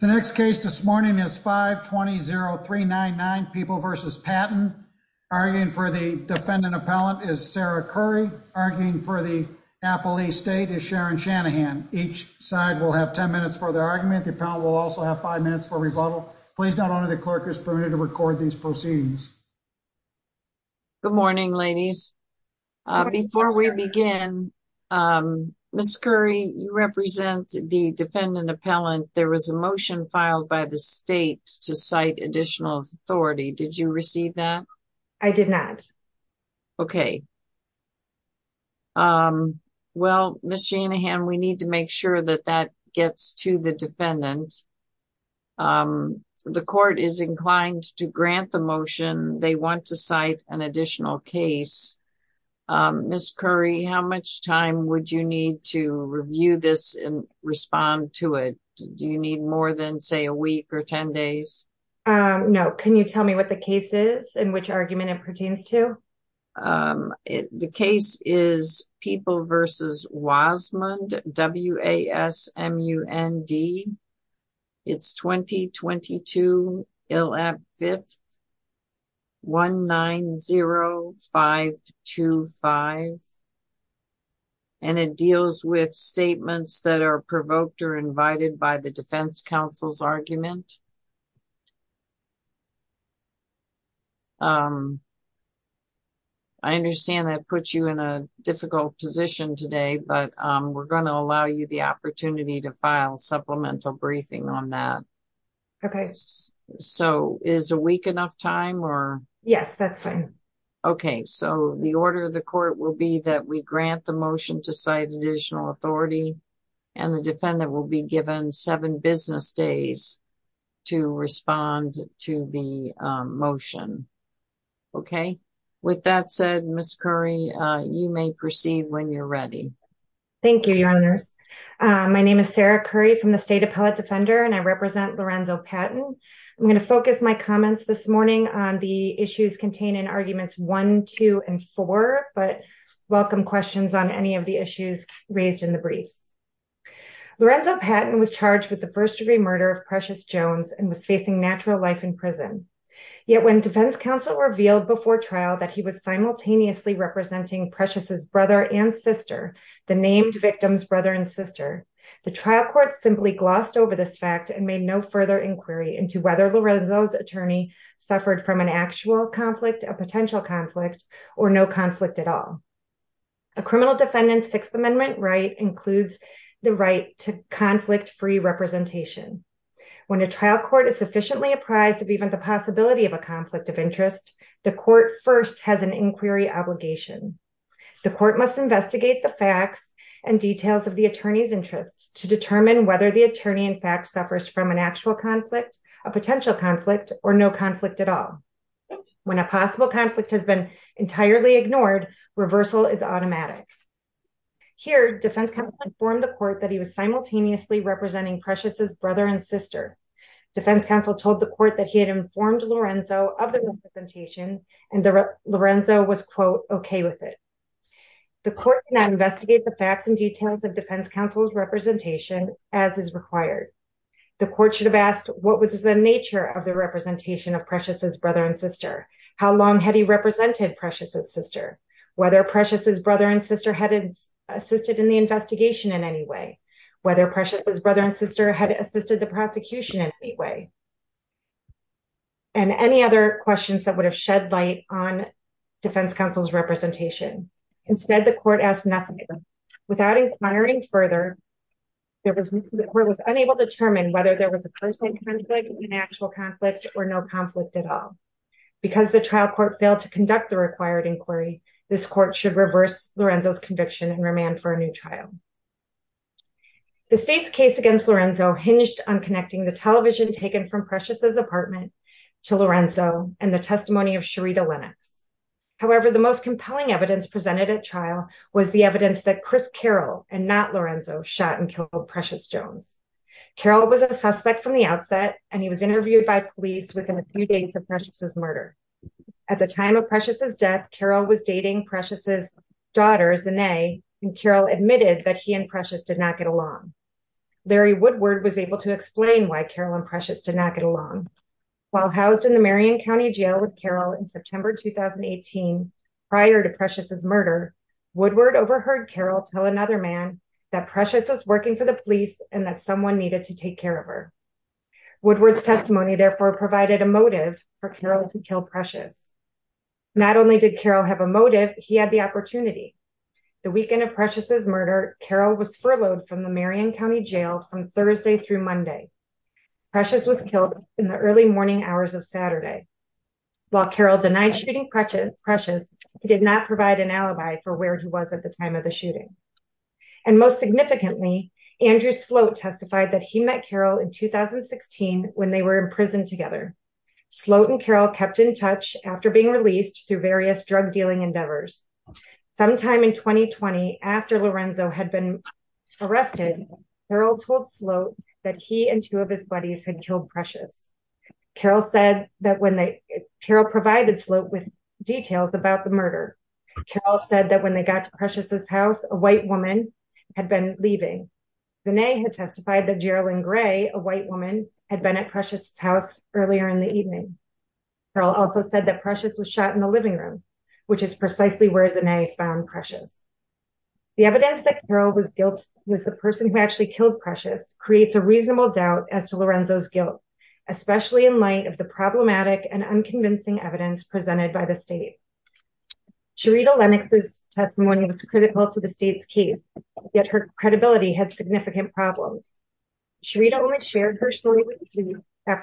The next case this morning is 520-399 People v. Patton. Arguing for the defendant appellant is Sarah Curry. Arguing for the appellee state is Sharon Shanahan. Each side will have 10 minutes for their argument. The appellant will also have 5 minutes for rebuttal. Please note only the clerk is permitted to record these proceedings. Good morning, ladies. Before we begin, Ms. Curry, you represent the defendant appellant. There was a motion filed by the state to cite additional authority. Did you receive that? I did not. Okay. Well, Ms. Shanahan, we need to make sure that that gets to the defendant. The court is inclined to grant the motion. They want to cite an additional case. Ms. Curry, how much time would you need to review this and respond to it? Do you need more than, say, a week or 10 days? No. Can you tell me what the case is and which argument it pertains to? The case is People v. Wasmund, W-A-S-M-U-N-D. It's 2022, 5th, 190-525. And it deals with statements that are provoked or invited by the defense counsel's argument. I understand that puts you in a difficult position today, but we're going to allow you the opportunity to file supplemental briefing on that. Okay, so is a week enough time? Yes, that's fine. Okay, so the order of the court will be that we grant the motion to cite additional authority. And the defendant will be given 7 business days. To respond to the motion. Okay, with that said, Ms. Curry, you may proceed when you're ready. Thank you, Your Honors. My name is Sarah Curry from the State Appellate Defender, and I represent Lorenzo Patton. I'm going to focus my comments this morning on the issues contained in Arguments 1, 2, and 4, but welcome questions on any of the issues raised in the briefs. Lorenzo Patton was charged with the first-degree murder of Precious Jones and was facing natural life in prison. Yet when defense counsel revealed before trial that he was simultaneously representing Precious's brother and sister, the named victim's brother and sister, the trial court simply glossed over this fact and made no further inquiry into whether Lorenzo's attorney suffered from an actual conflict, a potential conflict, or no conflict at all. A criminal defendant's Sixth Amendment right includes the right to conflict-free representation. When a trial court is sufficiently apprised of even the possibility of a conflict of interest, the court first has an inquiry obligation. The court must investigate the facts and details of the attorney's interests to determine whether the attorney in fact suffers from an actual conflict, a potential conflict, or no conflict at all. When a possible conflict has been entirely ignored, reversal is automatic. Here, defense counsel informed the court that he was simultaneously representing Precious's brother and sister. Defense counsel told the court that he had informed Lorenzo of the representation and that Lorenzo was, quote, okay with it. The court did not investigate the facts and details of defense counsel's representation as is required. The court should have asked what was the nature of the representation of Precious's brother and sister, how long had he represented Precious's sister, whether Precious's brother had assisted in the investigation in any way, whether Precious's brother and sister had assisted the prosecution in any way, and any other questions that would have shed light on defense counsel's representation. Instead, the court asked nothing. Without inquiring further, the court was unable to determine whether there was a personal conflict, an actual conflict, or no conflict at all. Because the trial court failed to conduct the required inquiry, this court should reverse Lorenzo's conviction and remand for a new trial. The state's case against Lorenzo hinged on connecting the television taken from Precious's apartment to Lorenzo and the testimony of Sherita Lennox. However, the most compelling evidence presented at trial was the evidence that Chris Carroll and not Lorenzo shot and killed Precious Jones. Carroll was a suspect from the outset, and he was interviewed by police within a few days of Precious's death. Carroll was dating Precious's daughter, Zanae, and Carroll admitted that he and Precious did not get along. Larry Woodward was able to explain why Carroll and Precious did not get along. While housed in the Marion County Jail with Carroll in September 2018, prior to Precious's murder, Woodward overheard Carroll tell another man that Precious was working for the police and that someone needed to take care of her. Woodward's testimony therefore provided a motive for Carroll to kill Precious. Not only did Carroll have a motive, he had the opportunity. The weekend of Precious's murder, Carroll was furloughed from the Marion County Jail from Thursday through Monday. Precious was killed in the early morning hours of Saturday. While Carroll denied shooting Precious, he did not provide an alibi for where he was at the time of the shooting. And most significantly, Andrew Sloat testified that he met Carroll in 2016 when they were in touch after being released through various drug dealing endeavors. Sometime in 2020, after Lorenzo had been arrested, Carroll told Sloat that he and two of his buddies had killed Precious. Carroll said that when they, Carroll provided Sloat with details about the murder. Carroll said that when they got to Precious's house, a white woman had been leaving. Zanae had testified that Carroll also said that Precious was shot in the living room, which is precisely where Zanae found Precious. The evidence that Carroll was guilty was the person who actually killed Precious creates a reasonable doubt as to Lorenzo's guilt, especially in light of the problematic and unconvincing evidence presented by the state. Charita Lennox's testimony was critical to the state's case, yet her credibility had significant problems. Charita only shared her story with the and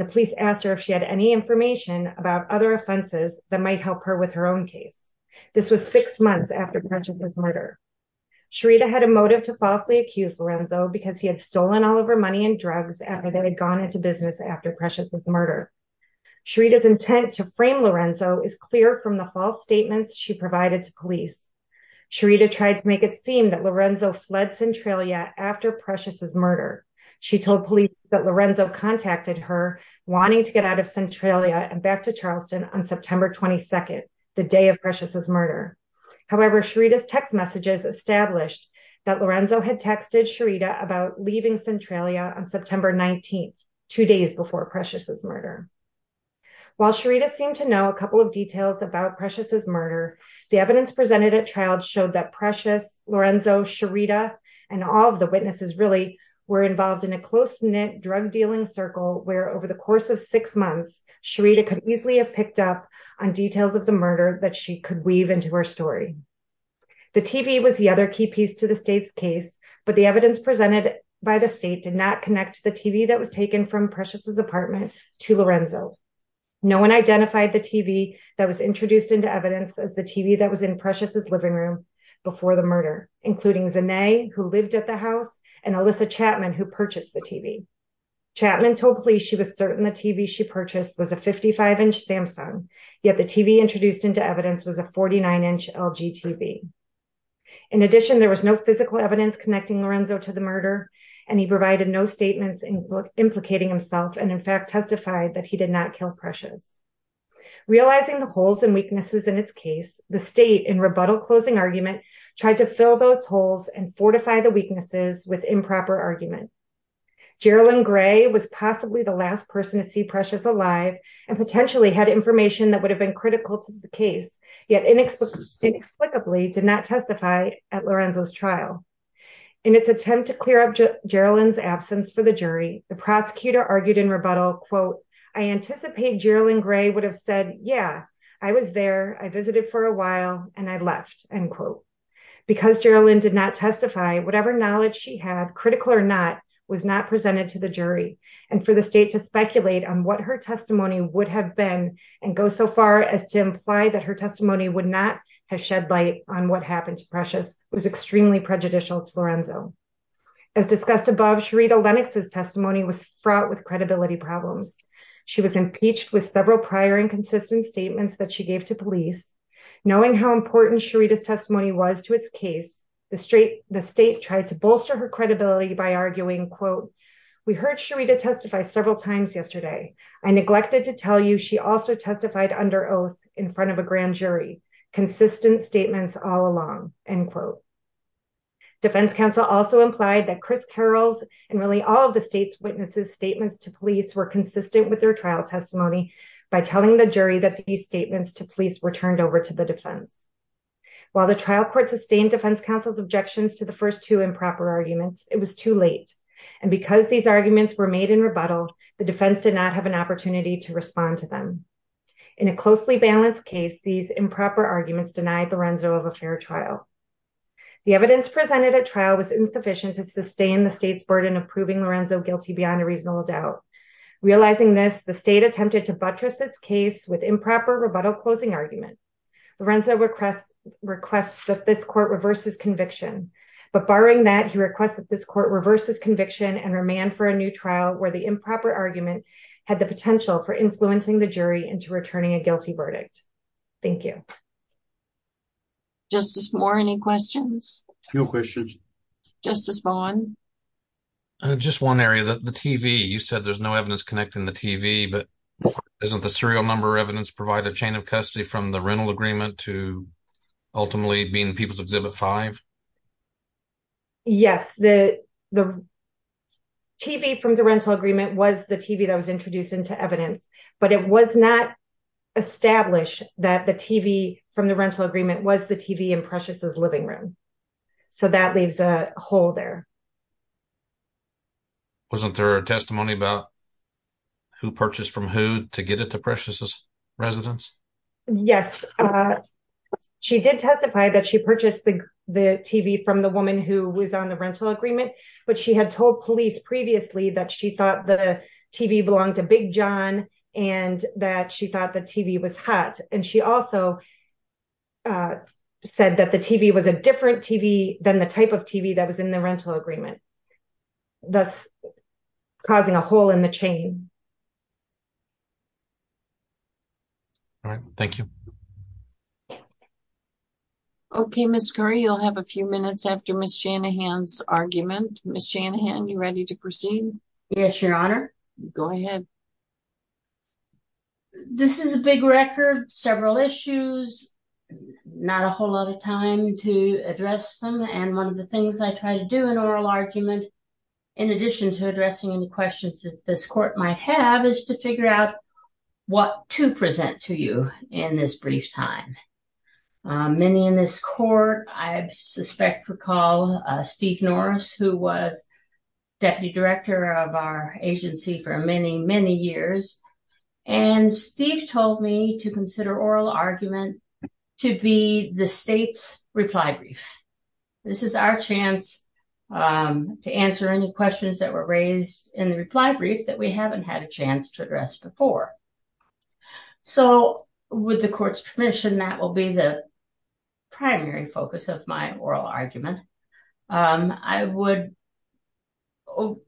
the police asked her if she had any information about other offenses that might help her with her own case. This was six months after Precious's murder. Charita had a motive to falsely accuse Lorenzo because he had stolen all of her money and drugs that had gone into business after Precious's murder. Charita's intent to frame Lorenzo is clear from the false statements she provided to police. Charita tried to make it seem that Lorenzo fled Centralia after Precious's wanting to get out of Centralia and back to Charleston on September 22nd, the day of Precious's murder. However, Charita's text messages established that Lorenzo had texted Charita about leaving Centralia on September 19th, two days before Precious's murder. While Charita seemed to know a couple of details about Precious's murder, the evidence presented at trial showed that Precious, Lorenzo, Charita, and all of the witnesses really were involved in a close-knit drug-dealing circle where over the course of six months, Charita could easily have picked up on details of the murder that she could weave into her story. The TV was the other key piece to the state's case, but the evidence presented by the state did not connect the TV that was taken from Precious's apartment to Lorenzo. No one identified the TV that was introduced into evidence as the TV that was in Precious's living room before the murder, including Zanae, who lived at the house, and Alyssa Chapman, who purchased the TV. Chapman told police she was certain the TV she purchased was a 55-inch Samsung, yet the TV introduced into evidence was a 49-inch LG TV. In addition, there was no physical evidence connecting Lorenzo to the murder, and he provided no statements implicating himself and, in fact, testified that he did not kill Precious. Realizing the holes and weaknesses in its case, the state, in rebuttal-closing argument, tried to fill those holes and fortify the weaknesses with improper argument. Jerilyn Gray was possibly the last person to see Precious alive and potentially had information that would have been critical to the case, yet inexplicably did not testify at Lorenzo's trial. In its attempt to clear up Jerilyn's absence for the jury, the prosecutor argued in rebuttal, quote, I anticipate Jerilyn Gray would have said, yeah, I was there, I visited for a while, and I left, end quote. Because Jerilyn did not testify, whatever knowledge she had, critical or not, was not presented to the jury, and for the state to speculate on what her testimony would have been and go so far as to imply that her testimony would not have shed light on what happened to Precious was extremely prejudicial to Lorenzo. As discussed above, Sharita Lennox's testimony was fraught with credibility problems. She was impeached with several prior inconsistent statements that she gave to police. Knowing how important Sharita's testimony was to its case, the state tried to bolster her credibility by arguing, quote, we heard Sharita testify several times yesterday. I neglected to tell you she also testified under oath in front of a grand jury, consistent statements all along, end quote. Defense counsel also implied that Chris Carroll's and really all of the state's witnesses' statements to police were consistent with their trial by telling the jury that these statements to police were turned over to the defense. While the trial court sustained defense counsel's objections to the first two improper arguments, it was too late, and because these arguments were made in rebuttal, the defense did not have an opportunity to respond to them. In a closely balanced case, these improper arguments denied Lorenzo of a fair trial. The evidence presented at trial was insufficient to sustain the state's case with improper rebuttal closing argument. Lorenzo requests that this court reverses conviction, but barring that, he requests that this court reverses conviction and remand for a new trial where the improper argument had the potential for influencing the jury into returning a guilty verdict. Thank you. Justice Moore, any questions? No questions. Justice Vaughn? Just one area, the TV. You said there's no evidence connecting the TV, but isn't the serial number evidence provide a chain of custody from the rental agreement to ultimately being People's Exhibit 5? Yes, the TV from the rental agreement was the TV that was introduced into evidence, but it was not established that the TV from the rental agreement was the TV in Precious's living room, so that leaves a hole there. Wasn't there a testimony about who purchased from who to get it to Precious's residence? Yes, she did testify that she purchased the TV from the woman who was on the rental agreement, but she had told police previously that she thought the TV belonged to Big John and that she thought the TV was hot, and she also said that the TV was a different TV than the type TV that was in the rental agreement, thus causing a hole in the chain. All right, thank you. Okay, Ms. Curry, you'll have a few minutes after Ms. Shanahan's argument. Ms. Shanahan, you ready to proceed? Yes, Your Honor. Go ahead. This is a big record, several issues, not a whole lot of time to address them, and one of the things I try to do in oral argument, in addition to addressing any questions that this court might have, is to figure out what to present to you in this brief time. Many in this court, I suspect, recall Steve Norris, who was deputy director of our agency for many, many years, and Steve told me to consider oral argument to be the state's reply brief. This is our chance to answer any questions that were raised in the reply brief that we haven't had a chance to address before. So, with the court's permission, that will be the primary focus of my oral argument. I would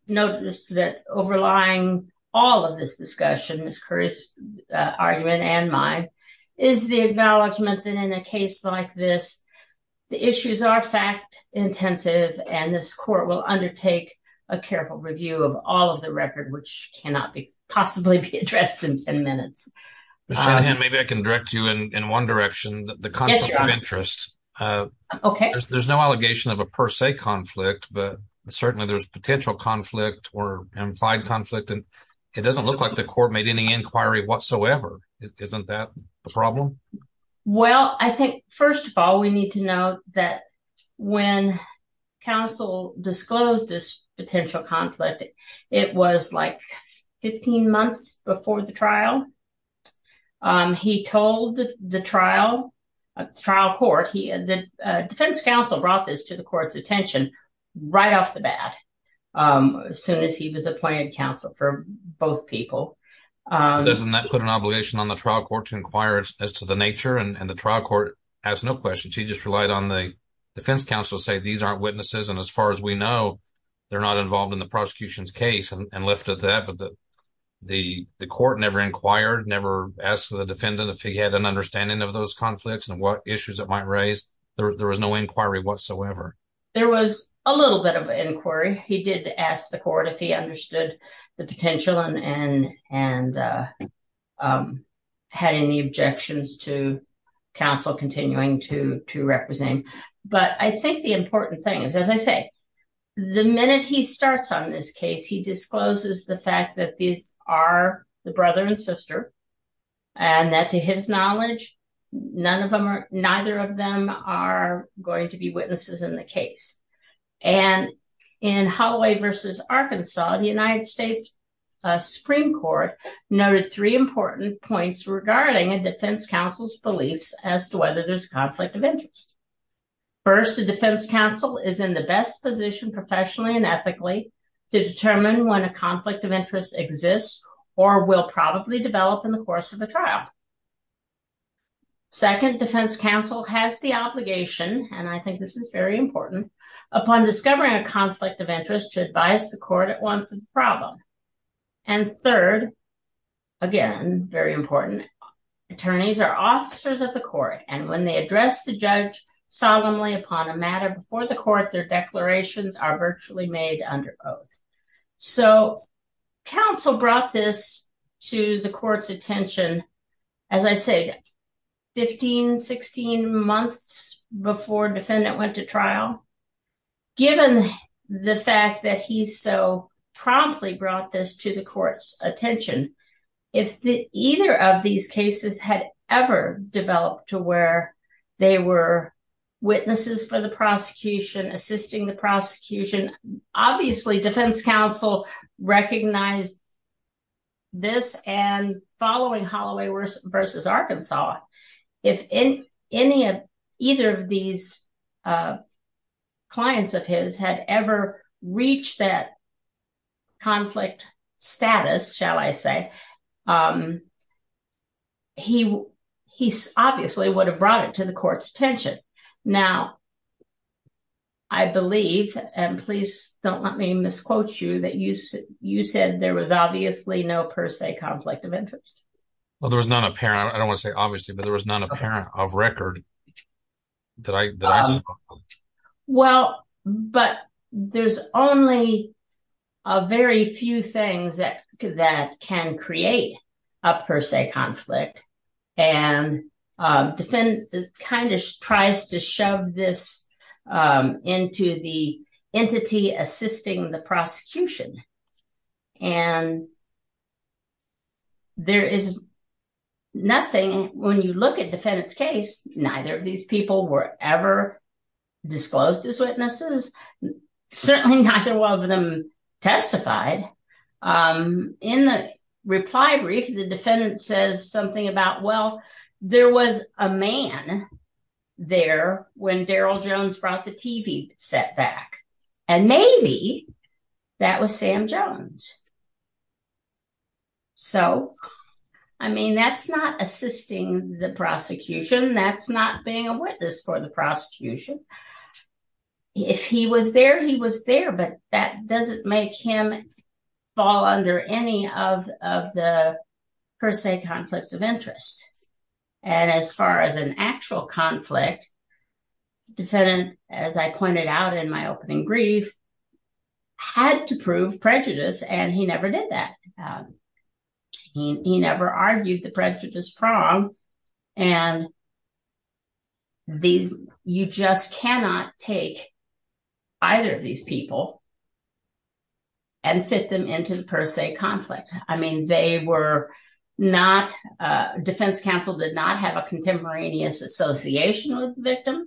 notice that overlying all of this discussion, Ms. Curry's argument and mine, is the acknowledgment that in a case like this, the issues are fact-intensive, and this court will undertake a careful review of all of the record, which cannot possibly be addressed in 10 minutes. Ms. Shanahan, maybe I can direct you in one direction. The concept of interest, there's no allegation of a per se conflict, but certainly there's potential conflict or implied conflict, and it doesn't look like the court made any that when counsel disclosed this potential conflict, it was like 15 months before the trial. He told the trial court, the defense counsel brought this to the court's attention right off the bat, as soon as he was appointed counsel for both people. Doesn't that put an obligation on the trial court to inquire as to the nature, and the trial court asked no questions. He just relied on the defense counsel to say, these aren't witnesses, and as far as we know, they're not involved in the prosecution's case, and left with that. But the court never inquired, never asked the defendant if he had an understanding of those conflicts and what issues it might raise. There was no inquiry whatsoever. There was a little bit of inquiry. He did ask the court if he understood the potential and had any objections to counsel continuing to represent. But I think the important thing is, as I say, the minute he starts on this case, he discloses the fact that these are the brother and sister, and that to his knowledge, neither of them are going to be witnesses in the case. And in Holloway versus Arkansas, the United States Supreme Court noted three important points regarding a defense counsel's beliefs as to whether there's conflict of interest. First, the defense counsel is in the best position professionally and ethically to determine when a conflict of interest exists or will probably develop in the course of a trial. Second, defense counsel has the obligation, and I think this is very important, upon discovering a conflict of interest to advise the court at once of the problem. And third, again, very important, attorneys are officers of the court, and when they address the judge solemnly upon a matter before the court, their declarations are virtually made under oath. So counsel brought this to the court's attention, as I say, 15, 16 months before defendant went to trial. Given the fact that he so promptly brought this to the court's attention, if either of these cases had ever developed to where they were witnesses for the prosecution, assisting the prosecution, obviously defense counsel recognized this and following Holloway versus Arkansas, if any of either of these clients of his had ever reached that conflict status, shall I say, he obviously would have brought it to the court's attention. Now, I believe, and please don't let me misquote you, that you said there was obviously no per se conflict of interest. Well, there was none apparent. I don't want to say obviously, but there was none apparent of record that I saw. Well, but there's only a very few things that can create a per se conflict, and defense kind of tries to shove this into the entity assisting the prosecution. And there is nothing, when you look at defendant's case, neither of these people were ever disclosed as witnesses. Certainly neither one of them testified. In the reply brief, the defendant says something about, well, there was a man there when Daryl Jones brought the TV set back, and maybe that was Sam Jones. So, I mean, that's not assisting the prosecution. That's not being a witness for the prosecution. If he was there, he was there, but that doesn't make him fall under any of the per se conflicts of interest. And as far as an actual conflict, defendant, as I pointed out in my opening brief, had to prove prejudice, and he never did that. He never argued the prejudice prong, and you just cannot take either of these people and fit them into the per se conflict. I mean, they were not, defense counsel did not have a contemporaneous association with the victim,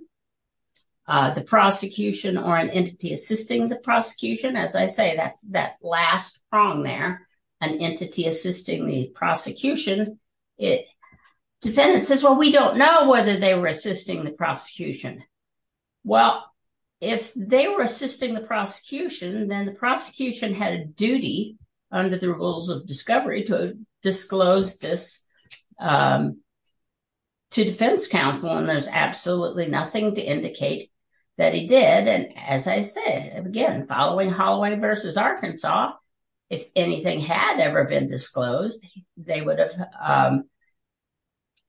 the prosecution, or an entity assisting the prosecution. Defendant says, well, we don't know whether they were assisting the prosecution. Well, if they were assisting the prosecution, then the prosecution had a duty under the rules of discovery to disclose this to defense counsel, and there's absolutely nothing to indicate that he did. And as I said, again, following Holloway versus Arkansas, if anything had happened, if it had ever been disclosed, they would have,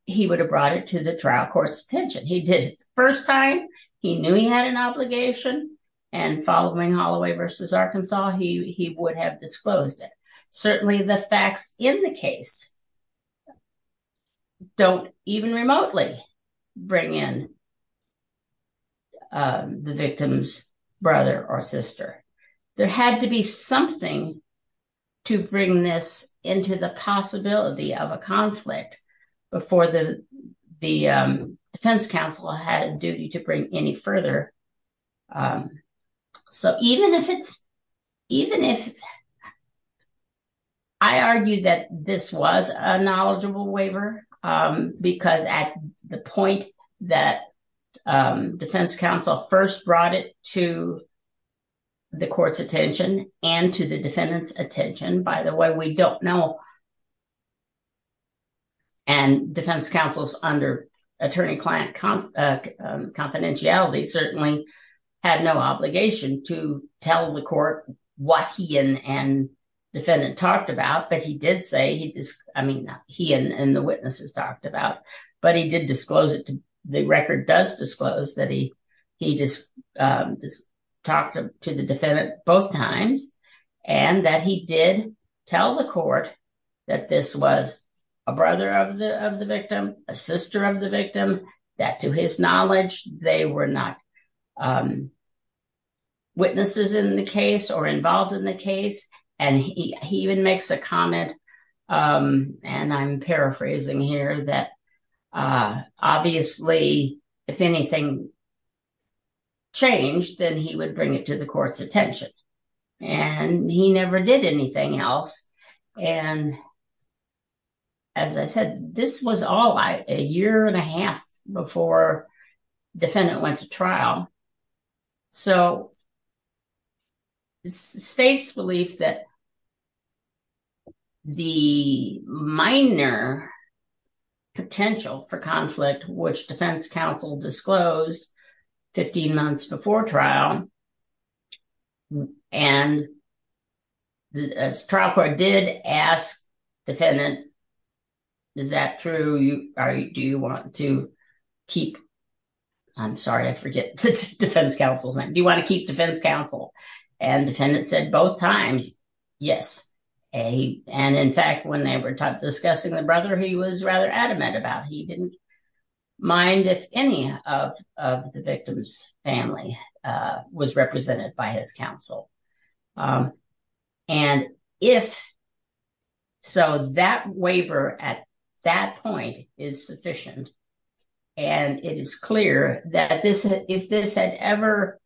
he would have brought it to the trial court's attention. He did it the first time, he knew he had an obligation, and following Holloway versus Arkansas, he would have disclosed it. Certainly the facts in the case don't even remotely bring in the victim's brother or sister. There had to be something to bring this into the possibility of a conflict before the defense counsel had a duty to bring any further. So, even if it's, even if, I argued that this was a knowledgeable waiver, because at the point that defense counsel first brought it to the court's attention and to the defendant's attention, by the way, we don't know, and defense counsel's under attorney-client confidentiality certainly had no obligation to tell the court what he and defendant talked about, but he did say, I mean, he and the witnesses talked about, but he did disclose it, the record does disclose that he talked to the defendant both times and that he did tell the court that this was a brother of witnesses in the case or involved in the case, and he even makes a comment, and I'm paraphrasing here, that obviously, if anything changed, then he would bring it to the court's attention, and he never did anything else, and as I said, this was all a year and a half before defendant went to trial, so the state's belief that the minor potential for conflict, which defense counsel disclosed 15 months before trial, and the trial court did ask defendant, is that true, do you want to keep, I'm sorry, I forget defense counsel's name, do you want to keep defense counsel, and defendant said both times, yes, and in fact, when they were discussing the brother, he was rather adamant about it, he didn't mind if any of the victim's family was represented by his counsel, and if so, that waiver at that point is sufficient, and it is clear that if this had ever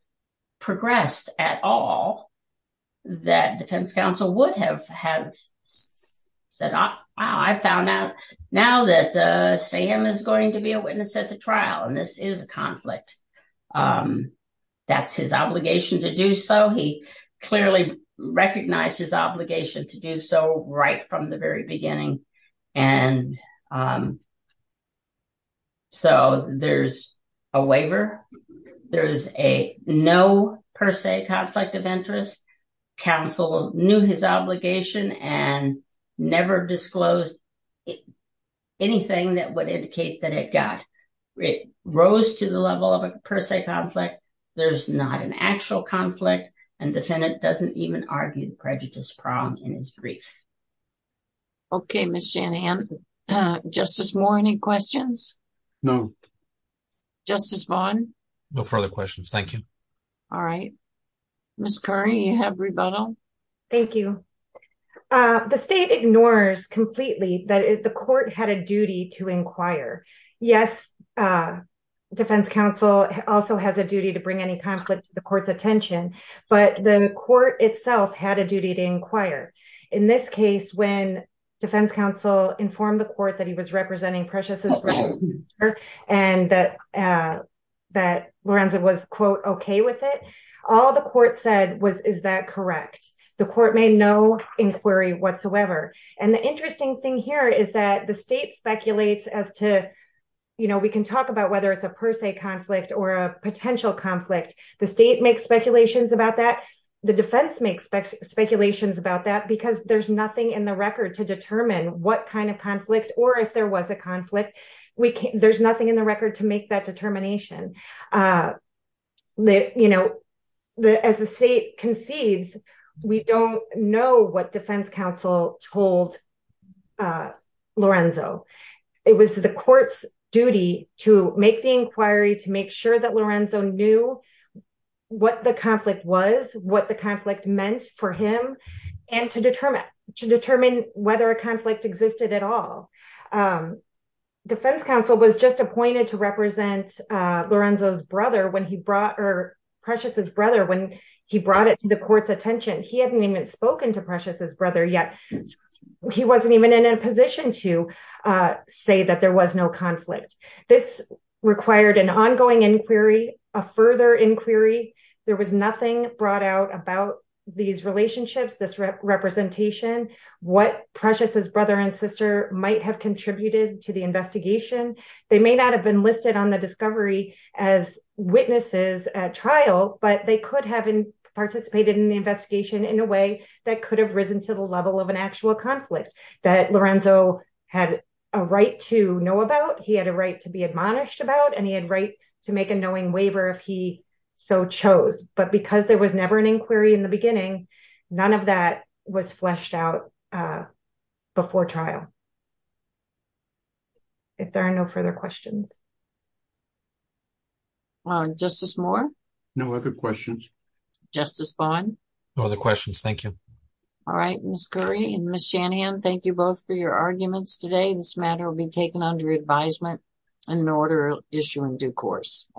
progressed at all, that defense counsel would have said, I found out now that Sam is going to clearly recognize his obligation to do so right from the very beginning, and so there's a waiver, there's a no per se conflict of interest, counsel knew his obligation, and never disclosed anything that would indicate that it got, it rose to the level of a per se conflict, there's not an actual conflict, and defendant doesn't even argue the prejudice problem in his brief. Okay, Ms. Shanahan, Justice Moore, any questions? No. Justice Vaughn? No further questions, thank you. All right, Ms. Curry, you have rebuttal? Thank you, the state ignores completely that the court had a duty to inquire, yes, defense counsel also has a duty to bring any conflict to the court's attention, but the court itself had a duty to inquire. In this case, when defense counsel informed the court that he was representing Precious's brother, and that Lorenzo was, quote, okay with it, all the court said was, is that correct? The court made no inquiry whatsoever, and the interesting thing here is that the state speculates as to, you know, we can talk about whether it's a per se conflict or a potential conflict, the state makes speculations about that, the defense makes speculations about that, because there's nothing in the record to determine what kind of conflict, or if there was a conflict, there's nothing in the record to make that hold Lorenzo. It was the court's duty to make the inquiry, to make sure that Lorenzo knew what the conflict was, what the conflict meant for him, and to determine whether a conflict existed at all. Defense counsel was just appointed to represent Precious's brother when he brought it to the court's attention, he hadn't even spoken to Precious's brother yet, he wasn't even in a position to say that there was no conflict. This required an ongoing inquiry, a further inquiry, there was nothing brought out about these relationships, this representation, what Precious's brother and sister might have contributed to the investigation, they may not have been listed on the discovery as witnesses at trial, but they could have participated in the investigation in a way that could have risen to the level of an actual conflict that Lorenzo had a right to know about, he had a right to be admonished about, and he had right to make a knowing waiver if he so chose. But because there was never an inquiry in the beginning, none of that was fleshed out before trial. If there are no further questions. Justice Moore? No other questions. Justice Bond? No other questions, thank you. All right, Ms. Curry and Ms. Shanahan, thank you both for your arguments today, this matter will be taken under advisement and an order will issue in due course.